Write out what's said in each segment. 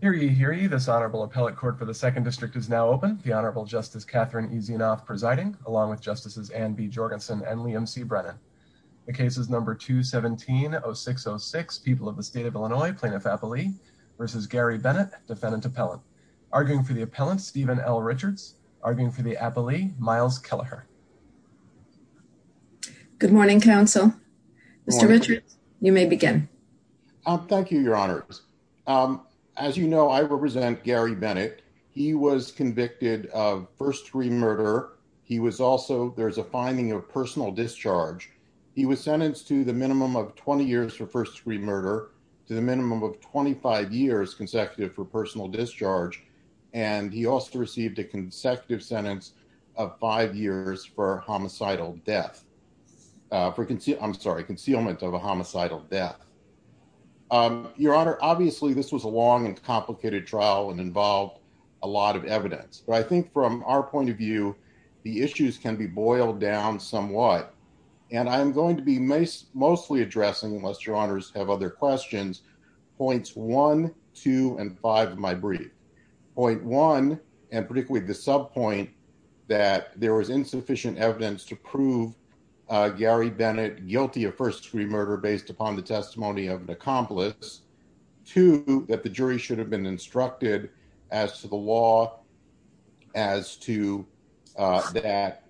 here. You hear you. This honorable appellate court for the second district is now open. The Honorable Justice Catherine easy enough presiding along with justices and be Jorgensen and Liam C. Brennan. The case is number 2 17 0606 people of the state of Illinois plaintiff appellee versus Gary Bennett, defendant appellant arguing for the appellant Stephen L. Richards arguing for the appellee Miles Kelleher. Good morning, Council. Mr. Richard, you may begin. Thank you, Your Honor. As you know, I represent Gary Bennett. He was convicted of first degree murder. He was also there's a finding of personal discharge. He was sentenced to the minimum of 20 years for first degree murder to the minimum of 25 years consecutive for personal discharge. And he also received a consecutive sentence of five years for homicidal death for I'm sorry, concealment of a homicidal death. Your Honor, obviously, this was a long and complicated trial and involved a lot of evidence. But I think from our point of view, the issues can be boiled down somewhat. And I'm going to be most mostly addressing unless Your Honor's have other questions. Points one, two and five of my brief point one and particularly the sub point that there was insufficient evidence to prove Gary Bennett guilty of first degree murder based upon the testimony of an accomplice to that the jury should have been instructed as to the law as to that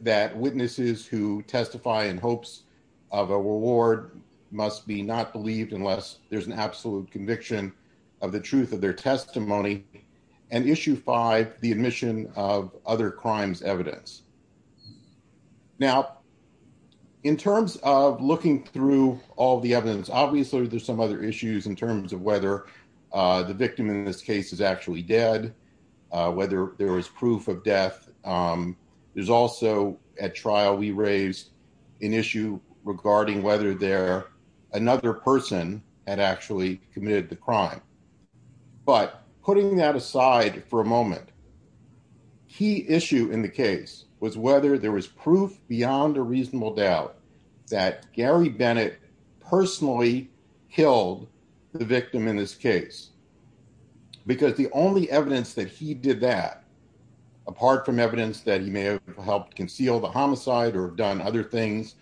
that witnesses who testify in hopes of a reward must be not believed unless there's an absolute conviction of the truth of their testimony. And issue five, the admission of other crimes evidence. Now, in terms of looking through all the evidence, obviously, there's some other issues in terms of whether the victim in this case is actually dead, whether there is proof of death. There's also at trial we raised an issue regarding whether there another person had actually committed the crime. But putting that aside for a moment. Key issue in the case was whether there was proof beyond a reasonable doubt that Gary Bennett personally killed the victim in this case, because the only evidence that he did that, apart from evidence that he may have helped conceal the homicide or done other things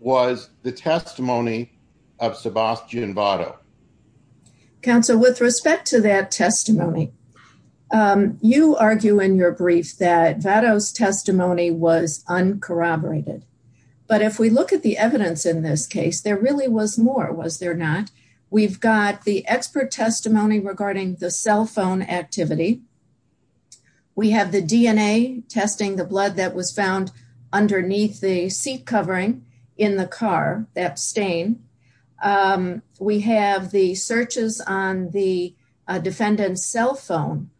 was the testimony of Sebastian Vado. Council with respect to that testimony, you argue in your brief that Vados testimony was uncorroborated. But if we look at the evidence in this case, there really was more was there not, we've got the expert testimony regarding the cell phone activity. We have the DNA testing the blood that was found underneath the seat covering in the car that stain. We have the searches on the defendant's cell phone.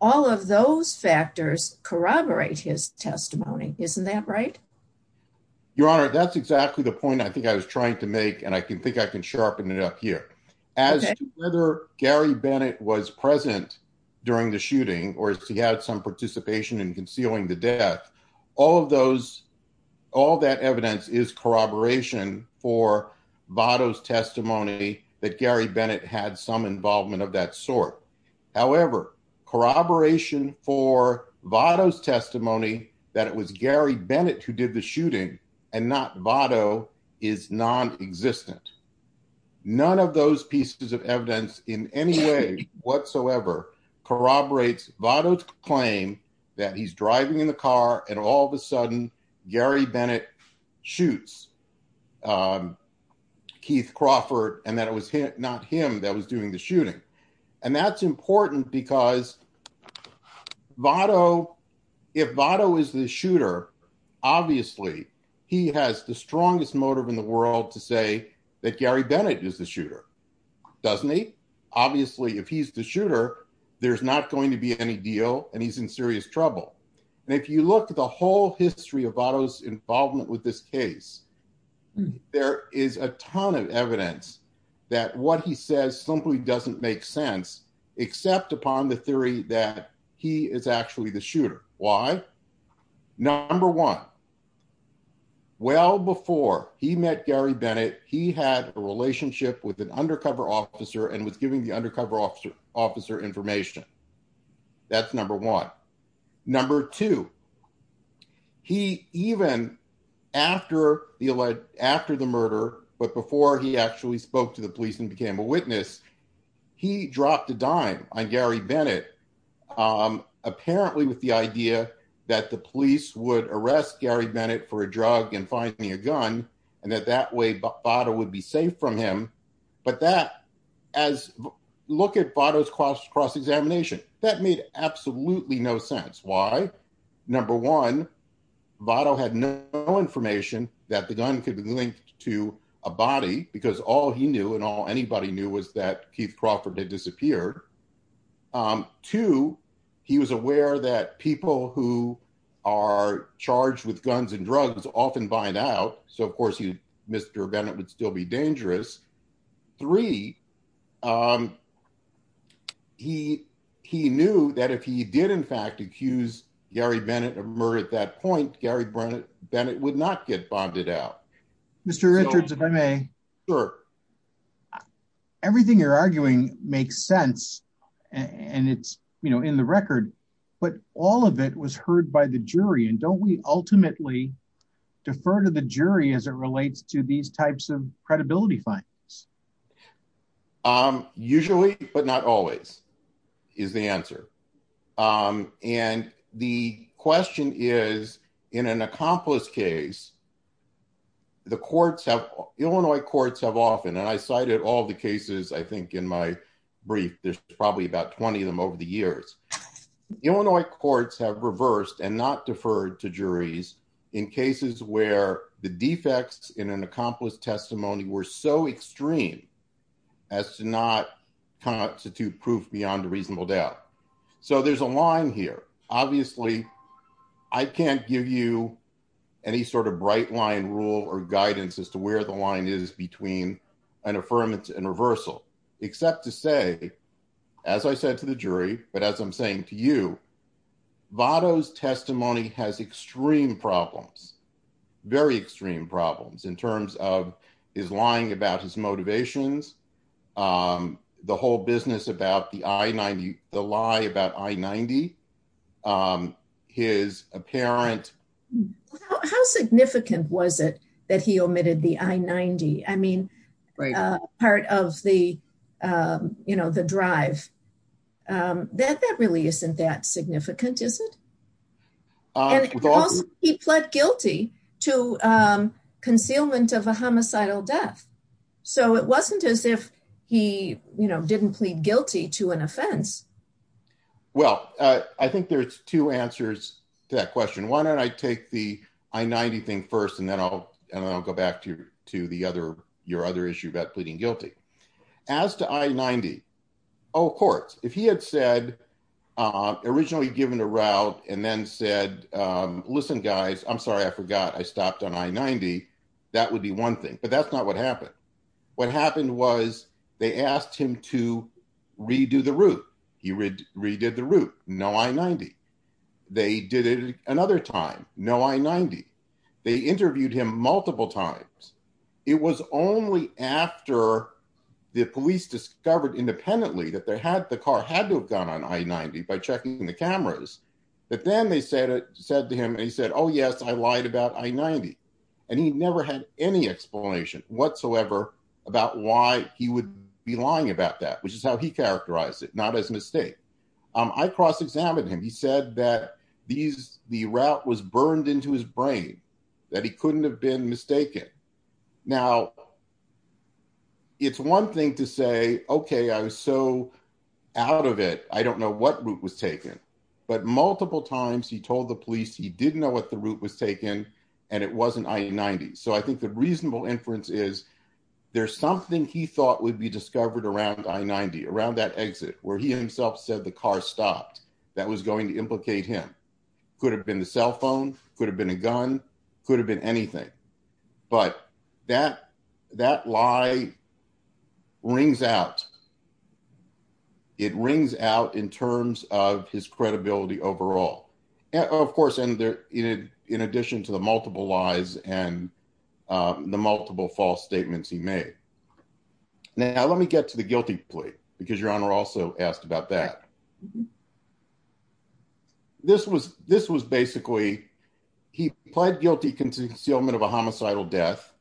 All of those factors corroborate his testimony. Isn't that right? Your Honor, that's exactly the point I think I was trying to make. And I can think I can sharpen it up here as whether Gary Bennett was present during the shooting or if he had some participation in concealing the death. All of those, all that evidence is corroboration for Vados testimony that Gary Bennett had some involvement of that sort. However, corroboration for Vados testimony that it was Gary Bennett who did the shooting and not Vado is non-existent. None of those pieces of evidence in any way whatsoever corroborates Vados claim that he's driving in the car and all of a sudden Gary Bennett shoots Keith Crawford and that it was not him that was doing the shooting. And that's important because Vado, if Vado is the shooter, obviously he has the strongest motive in the world to say that Gary Bennett is the shooter, doesn't he? Obviously, if he's the shooter, there's not going to be any deal and he's in serious trouble. And if you look at the whole history of Vado's involvement with this case, there is a ton of evidence that what he says simply doesn't make except upon the theory that he is actually the shooter. Why? Number one, well before he met Gary Bennett, he had a relationship with an undercover officer and was giving the undercover officer information. That's number one. Number two, he even after the murder, but before he actually spoke to the police and became a witness, he dropped a dime on Gary Bennett apparently with the idea that the police would arrest Gary Bennett for a drug and finding a gun and that that way Vado would be safe from him. But that as look at Vado's cross examination, that made absolutely no sense. Why? Number one, Vado had no information that the gun could be linked to a body because all he knew and all anybody knew was that Keith Crawford had disappeared. Two, he was aware that people who are charged with guns and drugs often bind out. So of course, Mr. Bennett would still be dangerous. Three, he knew that if he did in fact accuse Gary Bennett of murder at that point, Gary Bennett would not get bonded out. Mr. Richards, if I may. Sure. Everything you're arguing makes sense and it's, you know, in the record, but all of it was heard by the jury and don't we ultimately defer to the jury as it relates to these types of credibility findings? Usually, but not always, is the answer. And the question is, in an accomplice case, the courts have, Illinois courts have often, and I cited all the cases, I think in my brief, there's probably about 20 of them over the years. Illinois courts have reversed and not deferred to juries in cases where the defects in an accomplice testimony were so extreme as to not constitute proof beyond a reasonable doubt. So there's a line here. Obviously, I can't give you any sort of bright line rule or guidance as to where the line is between an affirmance and reversal, except to say, as I said to the jury, but as I'm saying to you, Votto's testimony has extreme problems, very extreme problems in terms of his lying about his motivations, the whole business about the I-90, the lie about I-90, his apparent... How significant was it that he omitted the I-90? I mean, part of the, you know, the drive. That really isn't that significant, is it? He pled guilty to concealment of a homicidal death. So it wasn't as if he, you know, didn't plead guilty to an offense. Well, I think there's two answers to that question. Why don't I take the I-90 thing first, and then I'll go back to the other, your other issue about pleading guilty. As to I-90, all courts, if he had said, originally given a route and then said, listen, guys, I'm sorry, I forgot, I stopped on I-90, that would be one thing. But that's not what happened. What happened was they asked him to redo the route. He redid the route. No I-90. They did it another time. No I-90. They interviewed him multiple times. It was only after the police discovered independently that the car had to have gone on I-90 by checking the cameras, but then they said to him, he said, oh yes, I lied about I-90. And he never had any explanation whatsoever about why he would be lying about that, which is how he characterized it, not as a mistake. I cross-examined him. He said that the route was burned into his brain, that he couldn't have been mistaken. Now, it's one thing to say, okay, I was so out of it, I don't know what route was taken. But multiple times he told the police he didn't know what the route was taken and it wasn't I-90. So I think the reasonable inference is there's something he thought would be discovered around I-90, around that exit, where he himself said the car stopped. That was going to implicate him. Could have been the cell phone, could have been a gun, could have been anything. But that lie rings out. It rings out in terms of his credibility overall. Of course, in addition to the multiple lies and the multiple false statements he made. Now, let me get to the guilty plea, because Your Honor also asked about that. This was basically, he pled guilty to concealment of a homicidal death.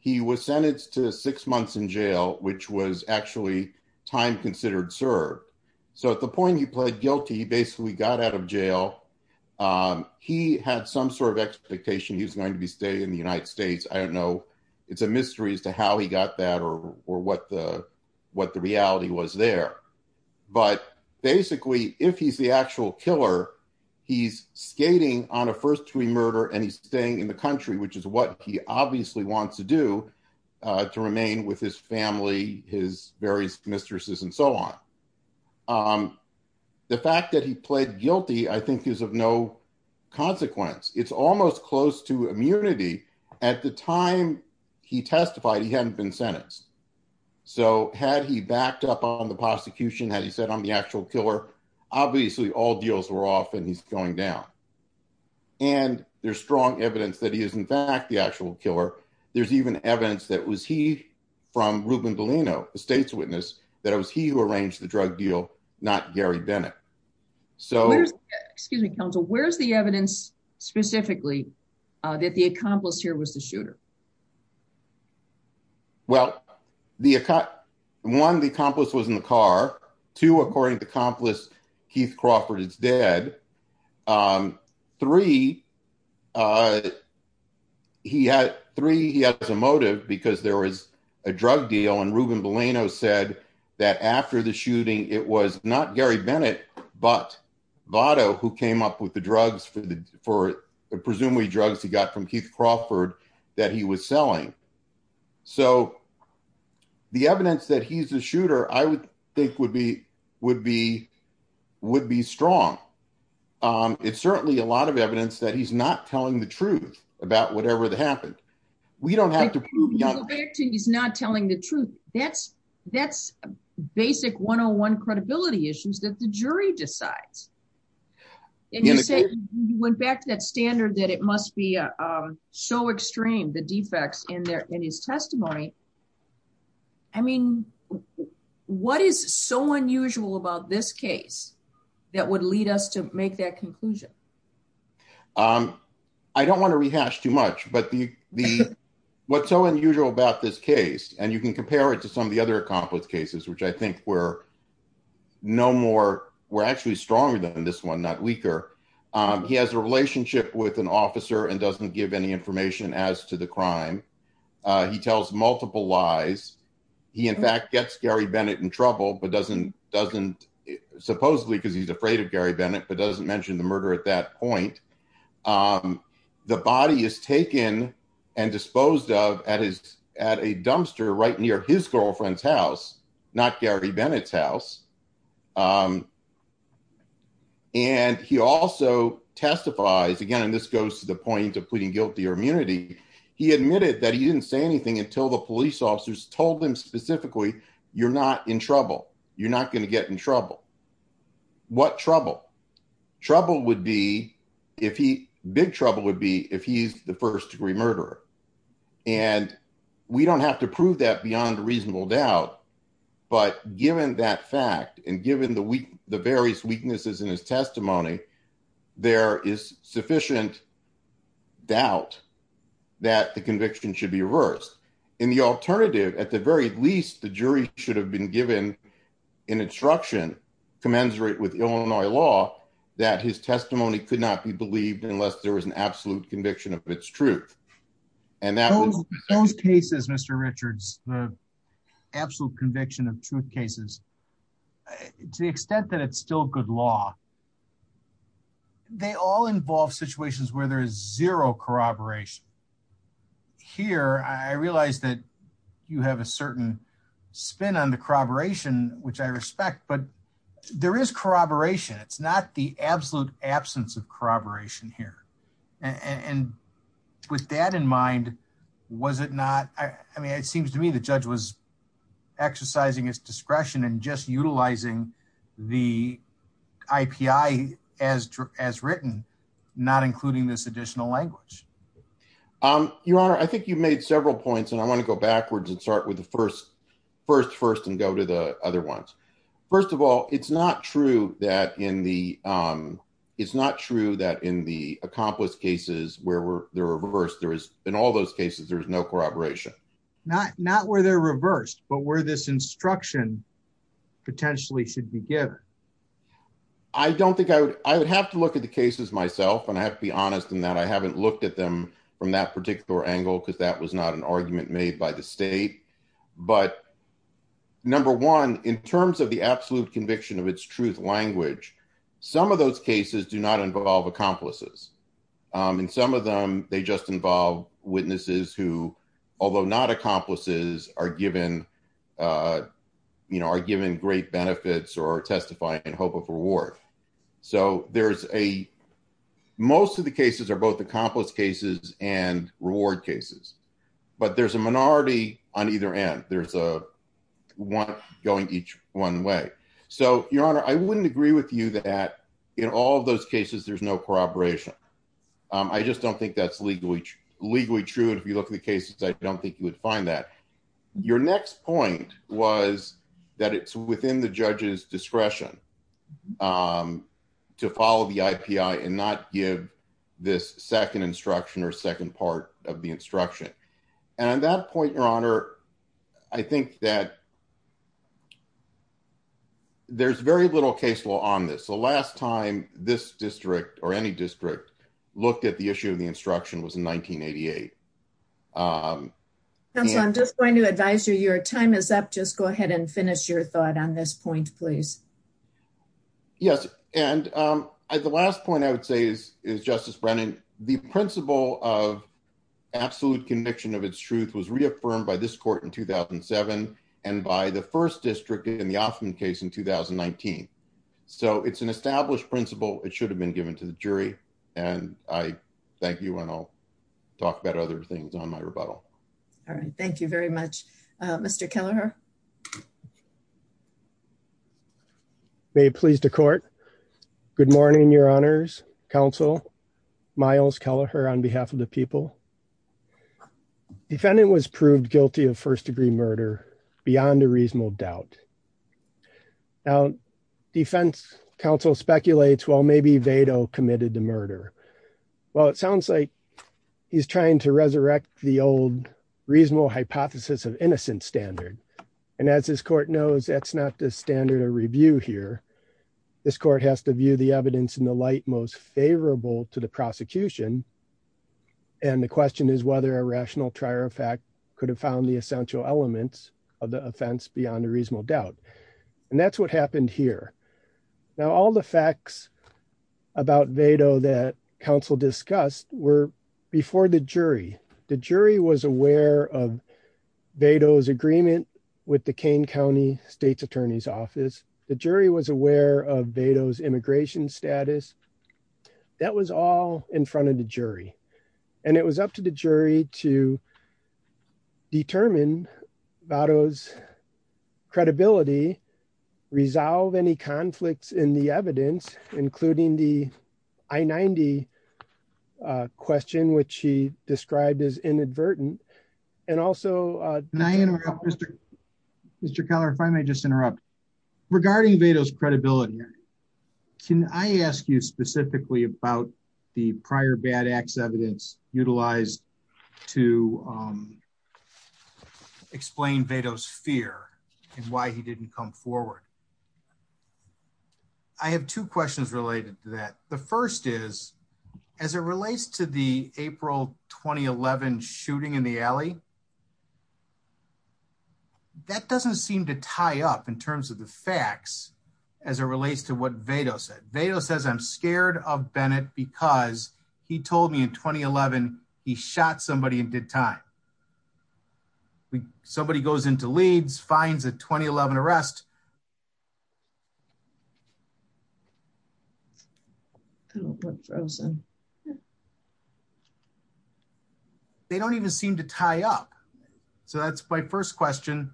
He was sentenced to six months in jail, which was actually time considered served. So at the point he pled guilty, he basically got out of jail. He had some sort of expectation he was going to be staying in the United States. I don't know, it's a mystery as to how he got that or what the reality was there. But basically, if he's the actual killer, he's skating on a first degree murder and he's staying in the country, which is what he obviously wants to do to remain with his family, his various mistresses, and so on. The fact that he pled guilty, I think is of no consequence. It's almost close to immunity. At the time he testified, he hadn't been sentenced. So had he backed up on the prosecution, had he said, I'm the actual killer, obviously all deals were off and he's going down. And there's strong evidence that he is, in fact, the actual killer. There's even evidence that was he from Ruben Delano, a state's witness, that it was he who arranged the drug deal, not Gary Bennett. So, excuse me, counsel, where's the evidence specifically that the accomplice here was the two, according to accomplice, Keith Crawford is dead. Three, he had three, he has a motive because there was a drug deal. And Ruben Delano said that after the shooting, it was not Gary Bennett, but Lotto, who came up with the drugs for the for presumably drugs he got from Keith Crawford that he was selling. So the evidence that he's a shooter, I would think would be would be would be strong. It's certainly a lot of evidence that he's not telling the truth about whatever that happened. We don't have to prove he's not telling the truth. That's that's basic one on one credibility issues that the jury decides. And you said you went back to that standard that it must be so extreme, the defects in his testimony. I mean, what is so unusual about this case that would lead us to make that conclusion? I don't want to rehash too much, but the what's so unusual about this case, and you can compare it to some of the other accomplished cases, which I think we're no more, we're actually stronger than this one, not weaker. He has a relationship with an officer and doesn't give any information as to the crime. He tells multiple lies. He, in fact, gets Gary Bennett in trouble, but doesn't doesn't supposedly because he's afraid of Gary Bennett, but doesn't mention the murder at that point. The body is taken and disposed of at his at a dumpster right near his girlfriend's house, not Gary Bennett's house. And he also testifies again, and this goes to the point of pleading guilty or immunity. He admitted that he didn't say anything until the police officers told him specifically, you're not in trouble. You're not going to get in trouble. What trouble? Trouble would be if he big trouble would be if he's the first degree murderer. And we don't have to prove that beyond a reasonable doubt. But given that fact, and given the various weaknesses in his testimony, there is sufficient doubt that the conviction should be reversed in the alternative. At the very least, the jury should have been given an instruction commensurate with Illinois law that his testimony could not be believed unless there was an absolute conviction of its truth. And that was those cases, Mr. Richards, the absolute conviction of truth cases, to the extent that it's still good law. They all involve situations where there is zero corroboration. Here, I realized that you have a certain spin on the corroboration, which I respect, but there is corroboration. It's not the absolute absence of corroboration here. And with that in mind, was it not? I mean, it seems to me the judge was exercising his discretion and just utilizing the IPI as written, not including this additional language. Your Honor, I think you've made several points, and I want to go backwards and start with the first first and go to the other ones. First of all, it's not true that in the it's not true that in the accomplished cases where they're reversed, there is in all those cases, there's no corroboration, not not where they're reversed, but where this instruction potentially should be given. I don't think I would I would have to look at the cases myself, and I have to be honest in that I haven't looked at them from that particular angle, because that was not an argument made by the state. But number one, in terms of the absolute conviction of its truth language, some of those cases do not involve accomplices. And some of them, they just involve witnesses who, although not accomplices are given, you know, are given great benefits or testify in hope of reward. So there's a most of the cases are both accomplished cases and reward cases. But there's a minority on either end. There's a one going each one way. So, Your Honor, I wouldn't agree with you that in all those cases, there's no corroboration. I just don't think that's legally legally true. And if you look at the cases, I don't think you would find that your next point was that it's within the judge's discretion to follow the IP and not give this second instruction or second part of the instruction. And that point, Your Honor, I think that there's very little case law on this. The last time this district or any district looked at the issue of the instruction was in 1988. And I'm just going to advise you your time is up. Just go ahead and finish your thought on this point, please. Yes. And the last point I would say is, is Justice Brennan, the principle of absolute conviction of its truth was reaffirmed by this court in 2007. And by the first district in the often case in 2019. So it's an established principle, it should have been given to the jury. And I thank you. And I'll talk about other things on my rebuttal. All right. Thank you very much, Mr. Keller. May please the court. Good morning, Your Honors Council. Miles Keller here on behalf of the people. Defendant was proved guilty of first degree murder beyond a reasonable doubt. Now, defense counsel speculates, well, maybe Vado committed the murder. Well, it sounds like he's trying to resurrect the old reasonable hypothesis of innocent standard. And as this court knows, that's not the standard of review here. This court has to view the evidence in the most favorable to the prosecution. And the question is whether a rational trier of fact could have found the essential elements of the offense beyond a reasonable doubt. And that's what happened here. Now, all the facts about Vado that counsel discussed were before the jury. The jury was aware of Vado's agreement with the Kane County State's Attorney's Office. The jury was aware of Vado's immigration status. That was all in front of the jury. And it was up to the jury to determine Vado's credibility, resolve any conflicts in the evidence, including the I-90 question, which he described as inadvertent. And also- Mr. Keller, if I may just interrupt. Regarding Vado's credibility, can I ask you specifically about the prior bad acts evidence utilized to explain Vado's fear and why he didn't come forward? I have two questions related to that. The first is, as it relates to the April 2011 shooting in the alley, that doesn't seem to tie up in terms of the facts as it relates to what Vado said. Vado says, I'm scared of Bennett because he told me in 2011, he shot somebody in good time. Somebody goes into Leeds, finds a 2011 arrest. They don't even seem to tie up. So, that's my first question.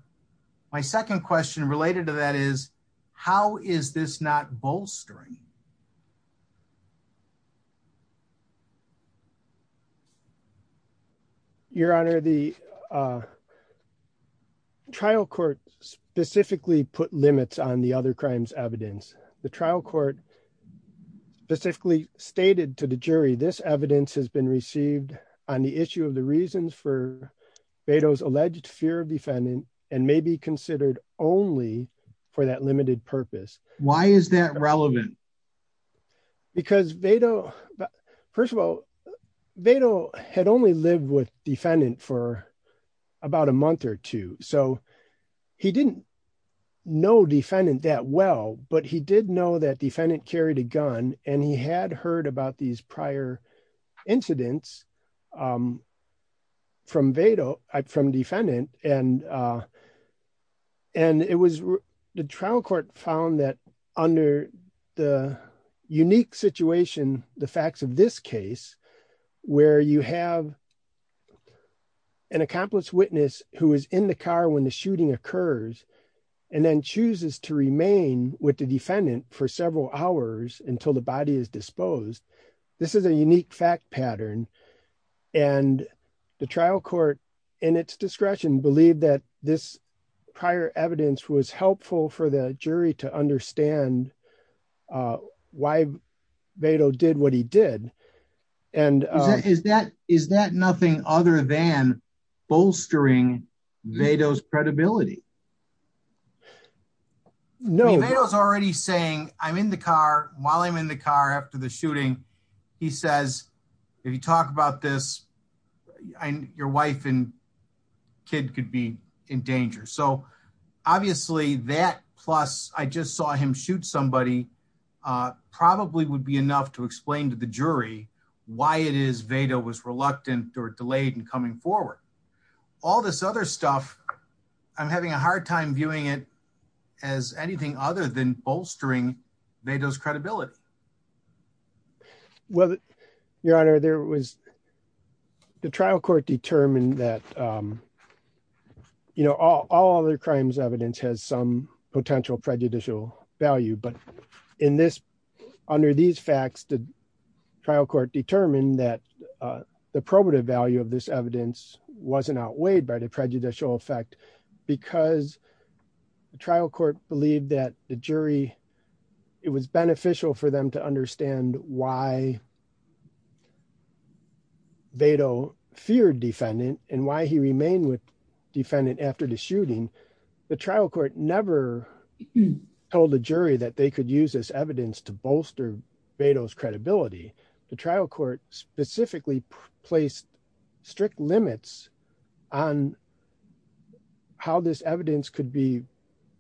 My second question related to that is, how is this not bolstering? Your Honor, the trial court specifically put limits on the other crimes evidence. The trial court specifically stated to the jury, this evidence has been received on the issue of the reasons for Vado's alleged fear of defendant and may be considered only for that limited purpose. Why is that relevant? Because Vado, first of all, Vado had only lived with defendant for about a month or two. So, he didn't know defendant that well, but he did know that defendant carried a gun and he had heard these prior incidents from Vado, from defendant. The trial court found that under the unique situation, the facts of this case, where you have an accomplice witness who is in the car when the shooting occurs and then chooses to remain with the defendant for several hours until the body is disposed, this is a unique fact pattern. The trial court, in its discretion, believed that this prior evidence was helpful for the jury to understand why Vado did what he did. Is that nothing other than bolstering Vado's credibility? No, Vado's already saying, I'm in the car, while I'm in the car after the shooting, he says, if you talk about this, your wife and kid could be in danger. So, obviously, that plus, I just saw him shoot somebody, probably would be enough to explain to the jury why it is Vado was reluctant or delayed in coming forward. All this other stuff, I'm having a hard time viewing it as anything other than bolstering Vado's credibility. Well, your honor, there was, the trial court determined that, you know, all other crimes evidence has some potential prejudicial value, but in this, under these facts, the trial court determined that the probative value of this evidence wasn't outweighed by the prejudicial effect because the trial court believed that the jury, it was beneficial for them to understand why Vado feared defendant and why he remained with defendant after the shooting. The trial court never told the jury that they could use this evidence to bolster Vado's credibility. The trial court specifically placed strict limits on how this evidence could be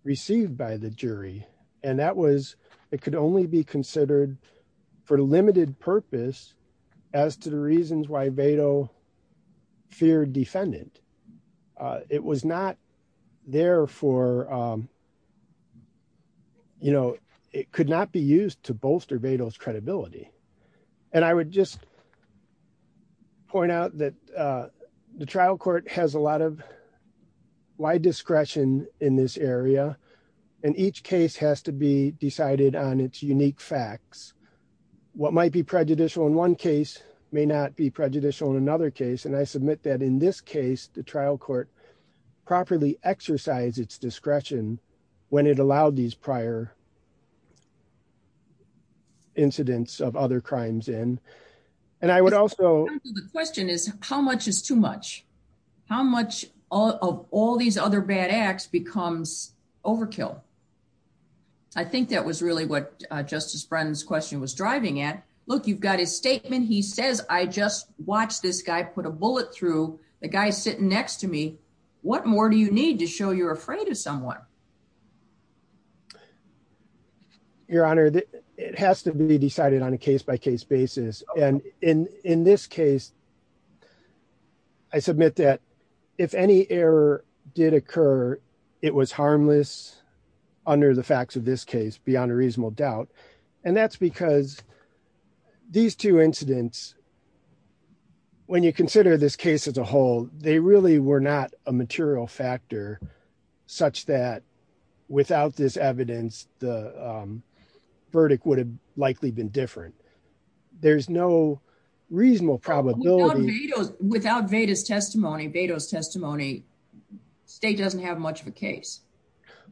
received by the jury. And that was, it could only be considered for limited purpose as to the reasons why Vado feared defendant. It was not there for, you know, it could not be used to bolster Vado's credibility. And I would just point out that the trial court has a lot of wide discretion in this area and each case has to be decided on its unique facts. What might be prejudicial in one case may not be prejudicial in another case. And I submit that in this case, the trial court properly exercised its discretion when it allowed these prior incidents of other crimes in. And I would also- The question is how much is too much? How much of all these other bad acts becomes overkill? I think that was really what Justice Brennan's question was driving at. Look, you've got his guy, put a bullet through the guy sitting next to me. What more do you need to show you're afraid of someone? Your Honor, it has to be decided on a case-by-case basis. And in this case, I submit that if any error did occur, it was harmless under the facts of this case, beyond a reasonable doubt. And that's because these two incidents, when you consider this case as a whole, they really were not a material factor such that without this evidence, the verdict would have likely been different. There's no reasonable probability- Without Vado's testimony, the state doesn't have much of a case.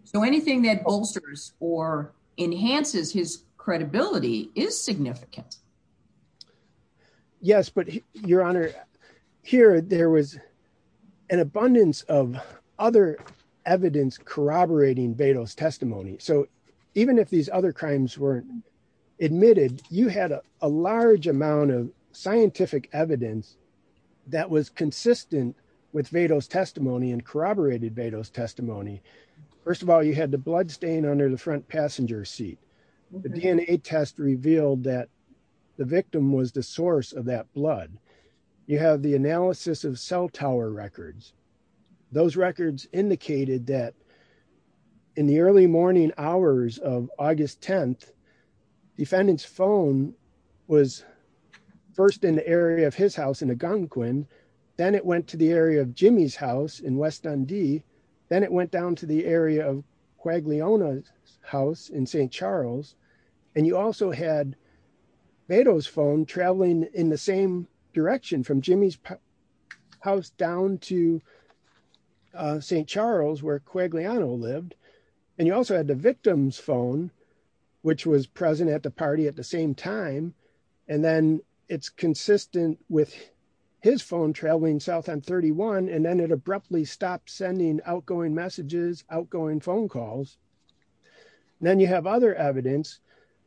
So anything that bolsters or enhances his credibility is significant. Yes, but Your Honor, here there was an abundance of other evidence corroborating Vado's testimony. So even if these other crimes weren't admitted, you had a large amount of scientific evidence that was consistent with Vado's testimony and corroborated Vado's testimony. First of all, you had the blood stain under the front passenger seat. The DNA test revealed that the victim was the source of that blood. You have the analysis of cell tower records. Those records indicated that in the early morning hours of August 10th, defendant's phone was first in the area of his house in Algonquin. Then it went to the area of Jimmy's house in West Dundee. Then it went down to the area of Quagliona's house in St. Charles. And you also had Vado's phone traveling in the same direction from Jimmy's house down to St. Charles where Quagliano lived. And you also had the victim's phone, which was present at the party at the same time. And then it's consistent with his phone traveling south on 31. And then it abruptly stopped sending outgoing messages, outgoing phone calls. Then you have other evidence.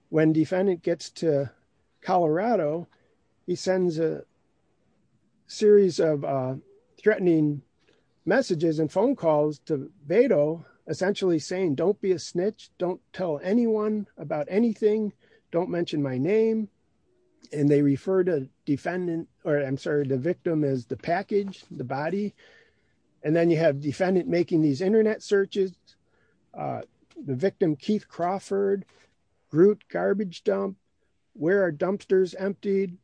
When defendant gets to Colorado, he sends a series of threatening messages and phone calls to name. And they refer to the victim as the package, the body. And then you have defendant making these internet searches. The victim, Keith Crawford, root garbage dump, where are dumpsters emptied,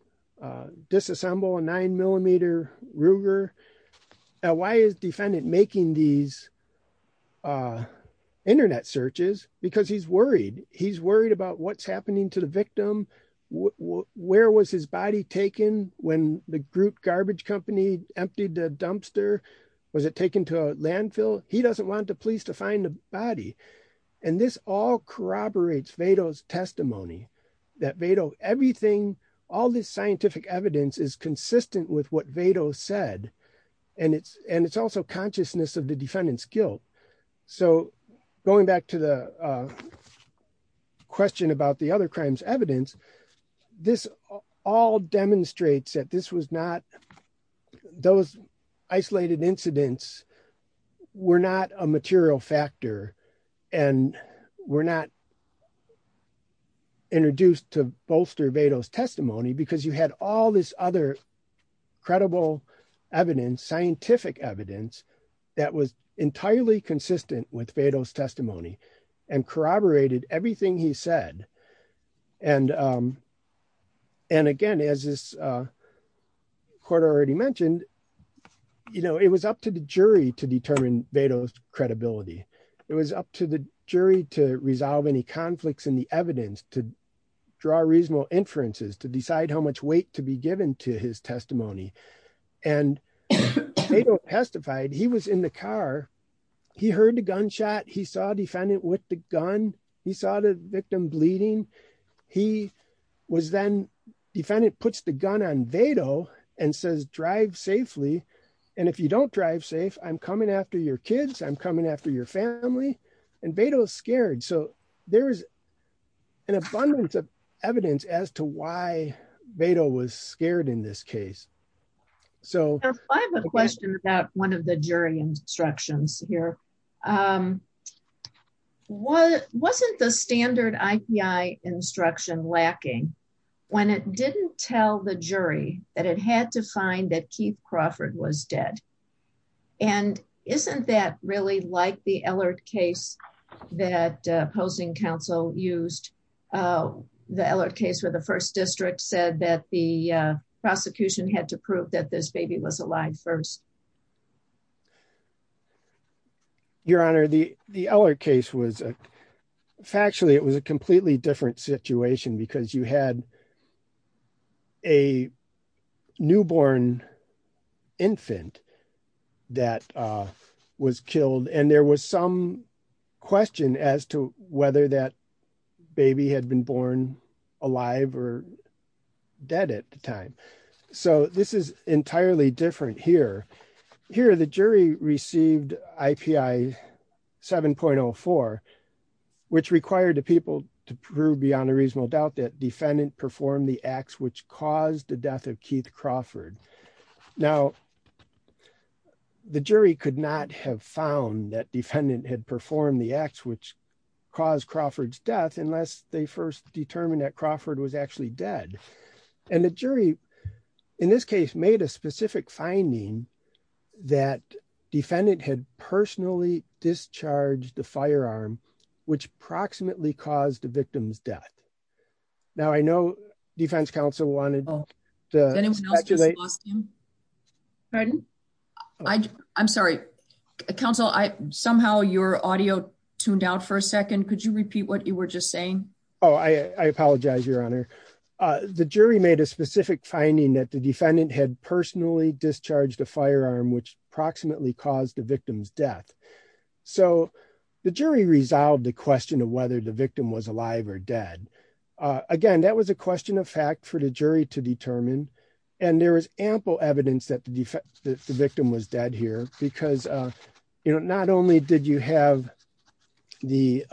disassemble a nine millimeter Ruger. Now, why is defendant making these internet searches? Because he's worried. He's worried about what's happening to the victim. Where was his body taken when the group garbage company emptied the dumpster? Was it taken to a landfill? He doesn't want the police to find the body. And this all corroborates Vado's testimony that Vado, everything, all this scientific evidence is consistent with what Vado said. And it's also consciousness of the defendant's guilt. So going back to the question about the other crimes evidence, this all demonstrates that this was not, those isolated incidents were not a material factor and were not introduced to bolster Vado's testimony because you had all this other credible evidence, scientific evidence that was entirely consistent with Vado's testimony and corroborated everything he said. And again, as this court already mentioned, it was up to the jury to determine Vado's credibility. It was up to the jury to resolve any conflicts in the evidence, to draw reasonable inferences, to decide how much weight to be given to his testimony. And Vado testified, he was in the car. He heard the gunshot. He saw defendant with the gun. He saw the victim bleeding. He was then, defendant puts the gun on Vado and says, drive safely. And if you don't drive safe, I'm coming after your kids. I'm coming after your family. And Vado's scared. So there's an abundance of evidence as to why Vado was scared in this case. So I have a question about one of the jury instructions here. Wasn't the standard IPI instruction lacking when it didn't tell the jury that it had to was dead? And isn't that really like the Ellard case that opposing counsel used? The Ellard case where the first district said that the prosecution had to prove that this baby was alive first. Your Honor, the Ellard case was, factually, it was a completely different situation because you had a newborn infant that was killed. And there was some question as to whether that baby had been born alive or dead at the time. So this is entirely different here. Here, the jury received IPI 7.04, which required the people to prove beyond a reasonable doubt that defendant performed the acts which caused the death of Keith Crawford. Now, the jury could not have found that defendant had performed the acts which caused Crawford's death unless they first determined that Crawford was actually dead. And the jury, in this case, made a specific finding that defendant had personally discharged the firearm, which approximately caused the victim's death. Now, I know defense counsel wanted to speculate. Pardon? I'm sorry. Counsel, somehow your audio tuned out for a second. Could you repeat that? The jury made a specific finding that the defendant had personally discharged the firearm, which approximately caused the victim's death. So the jury resolved the question of whether the victim was alive or dead. Again, that was a question of fact for the jury to determine. And there is ample evidence that the victim was dead here because not only did you have the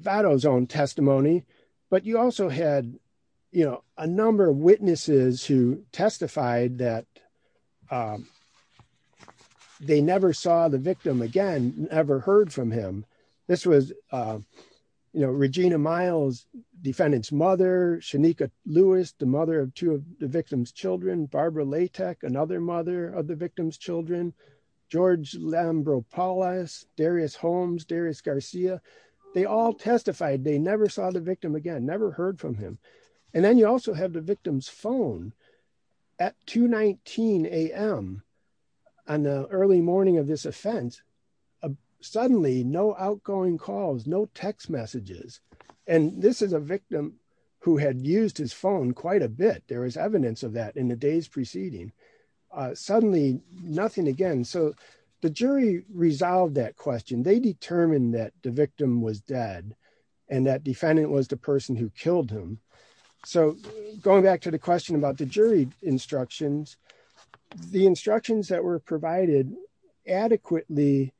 Vado's own testimony, but you also had, you know, a number of witnesses who testified that they never saw the victim again, never heard from him. This was, you know, Regina Miles, defendant's mother, Shanika Lewis, the mother of two of the victim's children, Barbara Latek, another mother of the victim's children, George Lambropoulos, Darius Holmes, Darius Garcia. They all testified they never saw the victim again, never heard from him. And then you also have the victim's phone at 2 19 a.m. on the early morning of this offense. Suddenly no outgoing calls, no text messages. And this is a victim who had used his phone quite a bit. There is evidence of that in the days preceding. Suddenly nothing again. So the jury resolved that question. They determined that the victim was dead and that defendant was the person who killed him. So going back to the question about the jury instructions, the instructions that were provided adequately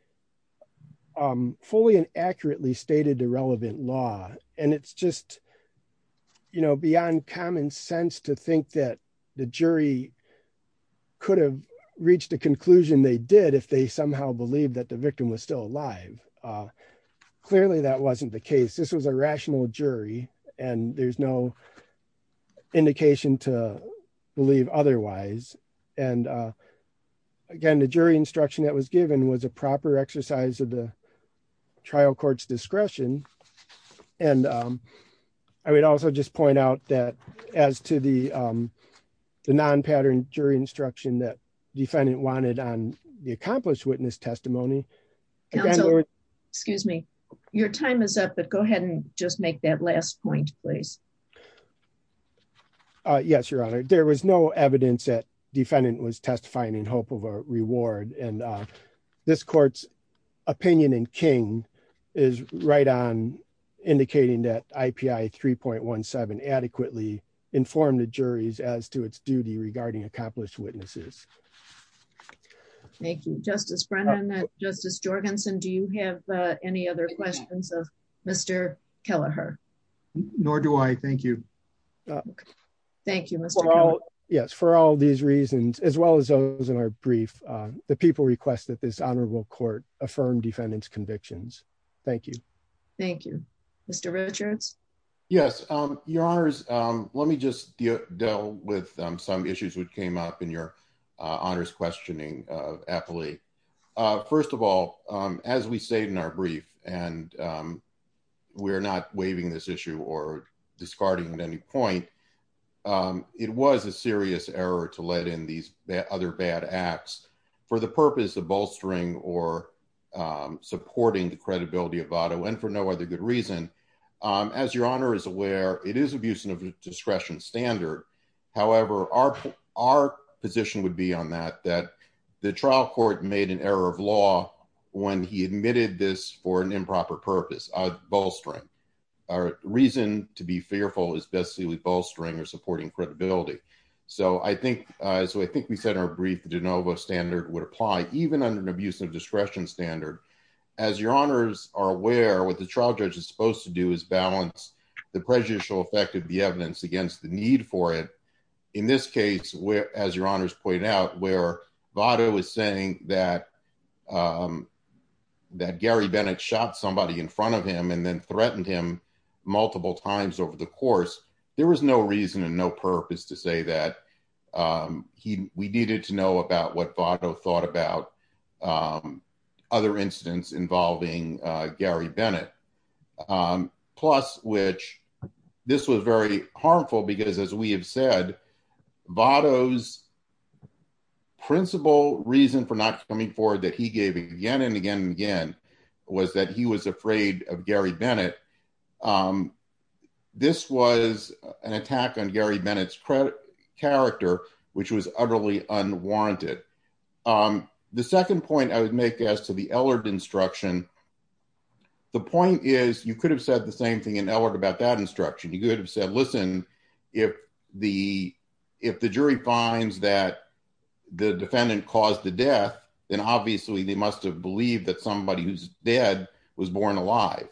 fully and accurately stated the relevant law. And it's just, you know, common sense to think that the jury could have reached a conclusion they did if they somehow believed that the victim was still alive. Clearly that wasn't the case. This was a rational jury and there's no indication to believe otherwise. And again, the jury instruction that was given was a proper exercise of the trial court's discretion. And I would also just point out that as to the non-pattern jury instruction that defendant wanted on the accomplished witness testimony. Excuse me, your time is up, but go ahead and just make that last point, please. Yes, Your Honor. There was no evidence that defendant was testifying in hope of a reward and this court's opinion in King is right on indicating that IPI 3.17 adequately informed the juries as to its duty regarding accomplished witnesses. Thank you, Justice Brennan. Justice Jorgensen, do you have any other questions of Mr. Kelleher? Nor do I, thank you. Thank you, Mr. Kelleher. Yes, for all these reasons, as well as those in our brief, the people request that this honorable court affirm defendant's convictions. Thank you. Thank you, Mr. Richards. Yes, Your Honors. Let me just deal with some issues that came up in your honors questioning of Appley. First of all, as we say in our brief, and we're not waiving this for the purpose of bolstering or supporting the credibility of Votto and for no other good reason. As Your Honor is aware, it is abuse of discretion standard. However, our position would be on that, that the trial court made an error of law when he admitted this for an improper purpose, bolstering. Our reason to be fearful is basically bolstering or supporting credibility. So I think, as I think we said in our brief, the de novo standard would apply even under an abuse of discretion standard. As Your Honors are aware, what the trial judge is supposed to do is balance the prejudicial effect of the evidence against the need for it. In this case, as Your Honors pointed out, where Votto was saying that Gary Bennett shot somebody in front of him and then threatened him multiple times over the course, there was no reason and no purpose to say that we needed to know about what Votto thought about other incidents involving Gary Bennett. Plus, which this was very harmful because as we have said, Votto's principal reason for not coming forward that he gave again and again and again was that he was afraid of Gary Bennett. Um, this was an attack on Gary Bennett's credit character, which was utterly unwarranted. The second point I would make as to the Ellard instruction. The point is, you could have said the same thing in Ellard about that instruction, you could have said, listen, if the if the jury finds that the defendant caused the death, then obviously they must have believed that somebody who's dead was born alive.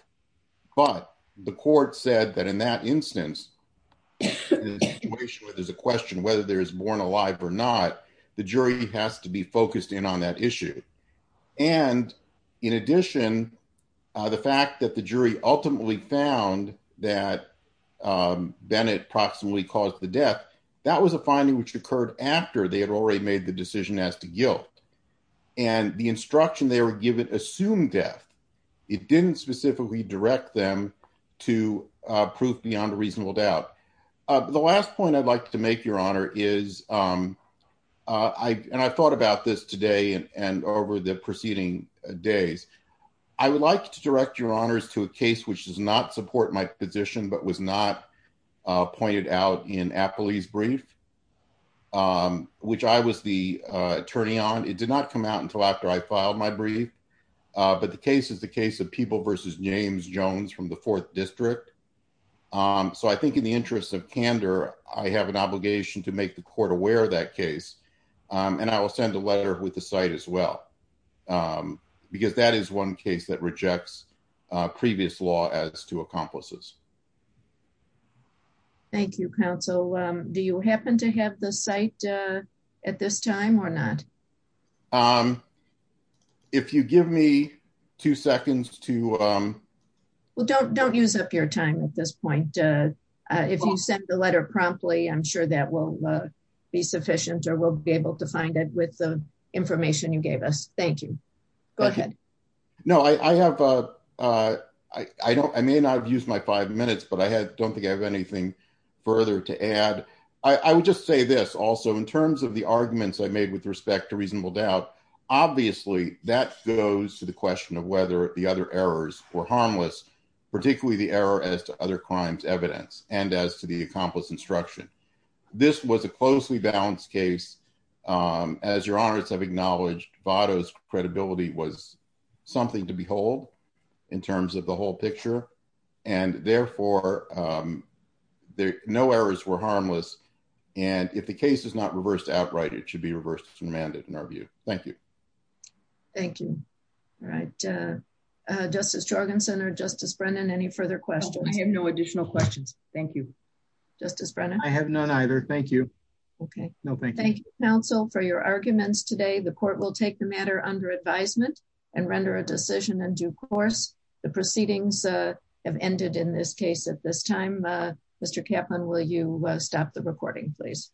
But the court said that in that instance, in a situation where there's a question whether there's born alive or not, the jury has to be focused in on that issue. And in addition, the fact that the jury ultimately found that Bennett approximately caused the death, that was a finding which occurred after they had already made the decision as to guilt. And the instruction they were given assumed death. It didn't specifically direct them to prove beyond a reasonable doubt. The last point I'd like to make, Your Honor, is I and I thought about this today and over the preceding days, I would like to direct Your Honors to a case which does not support my position, but was not pointed out in Appley's brief, which I was the attorney on. It did not come out until after I filed my brief. But the case is the case of people versus James Jones from the fourth district. So I think in the interest of candor, I have an obligation to make the court aware of that case. And I will send a letter with the site as well. Because that is one case that rejects previous law as to accomplices. Thank you, counsel. Do you happen to have the site at this time or not? If you give me two seconds to Well, don't don't use up your time at this point. If you send the letter promptly, I'm sure that will be sufficient or we'll be able to find it with the information you gave us. Thank you. Go ahead. No, I have I don't. I mean, I've used my five minutes, but I had don't think I have anything further to add. I would just say this. Also, in terms of the arguments I made with respect to reasonable doubt. Obviously, that goes to the question of whether the other errors were harmless, particularly the error as to other crimes evidence and as to the accomplice instruction. This was a closely balanced case. As your honors have acknowledged, Votto's credibility was something to behold in terms of the whole picture. And therefore, no errors were harmless. And if the case is not reversed outright, it should be reversed and remanded in our view. Thank you. Thank you. All right. Justice Jorgensen or Justice Brennan, any further questions? I have no additional questions. Thank you. Justice Brennan. I have none either. Thank you. Okay. No, thank you counsel for your arguments today. The court will take the matter under advisement and render a decision in due course. The proceedings have ended in this case at this time. Mr. Kaplan, will you stop the recording, please?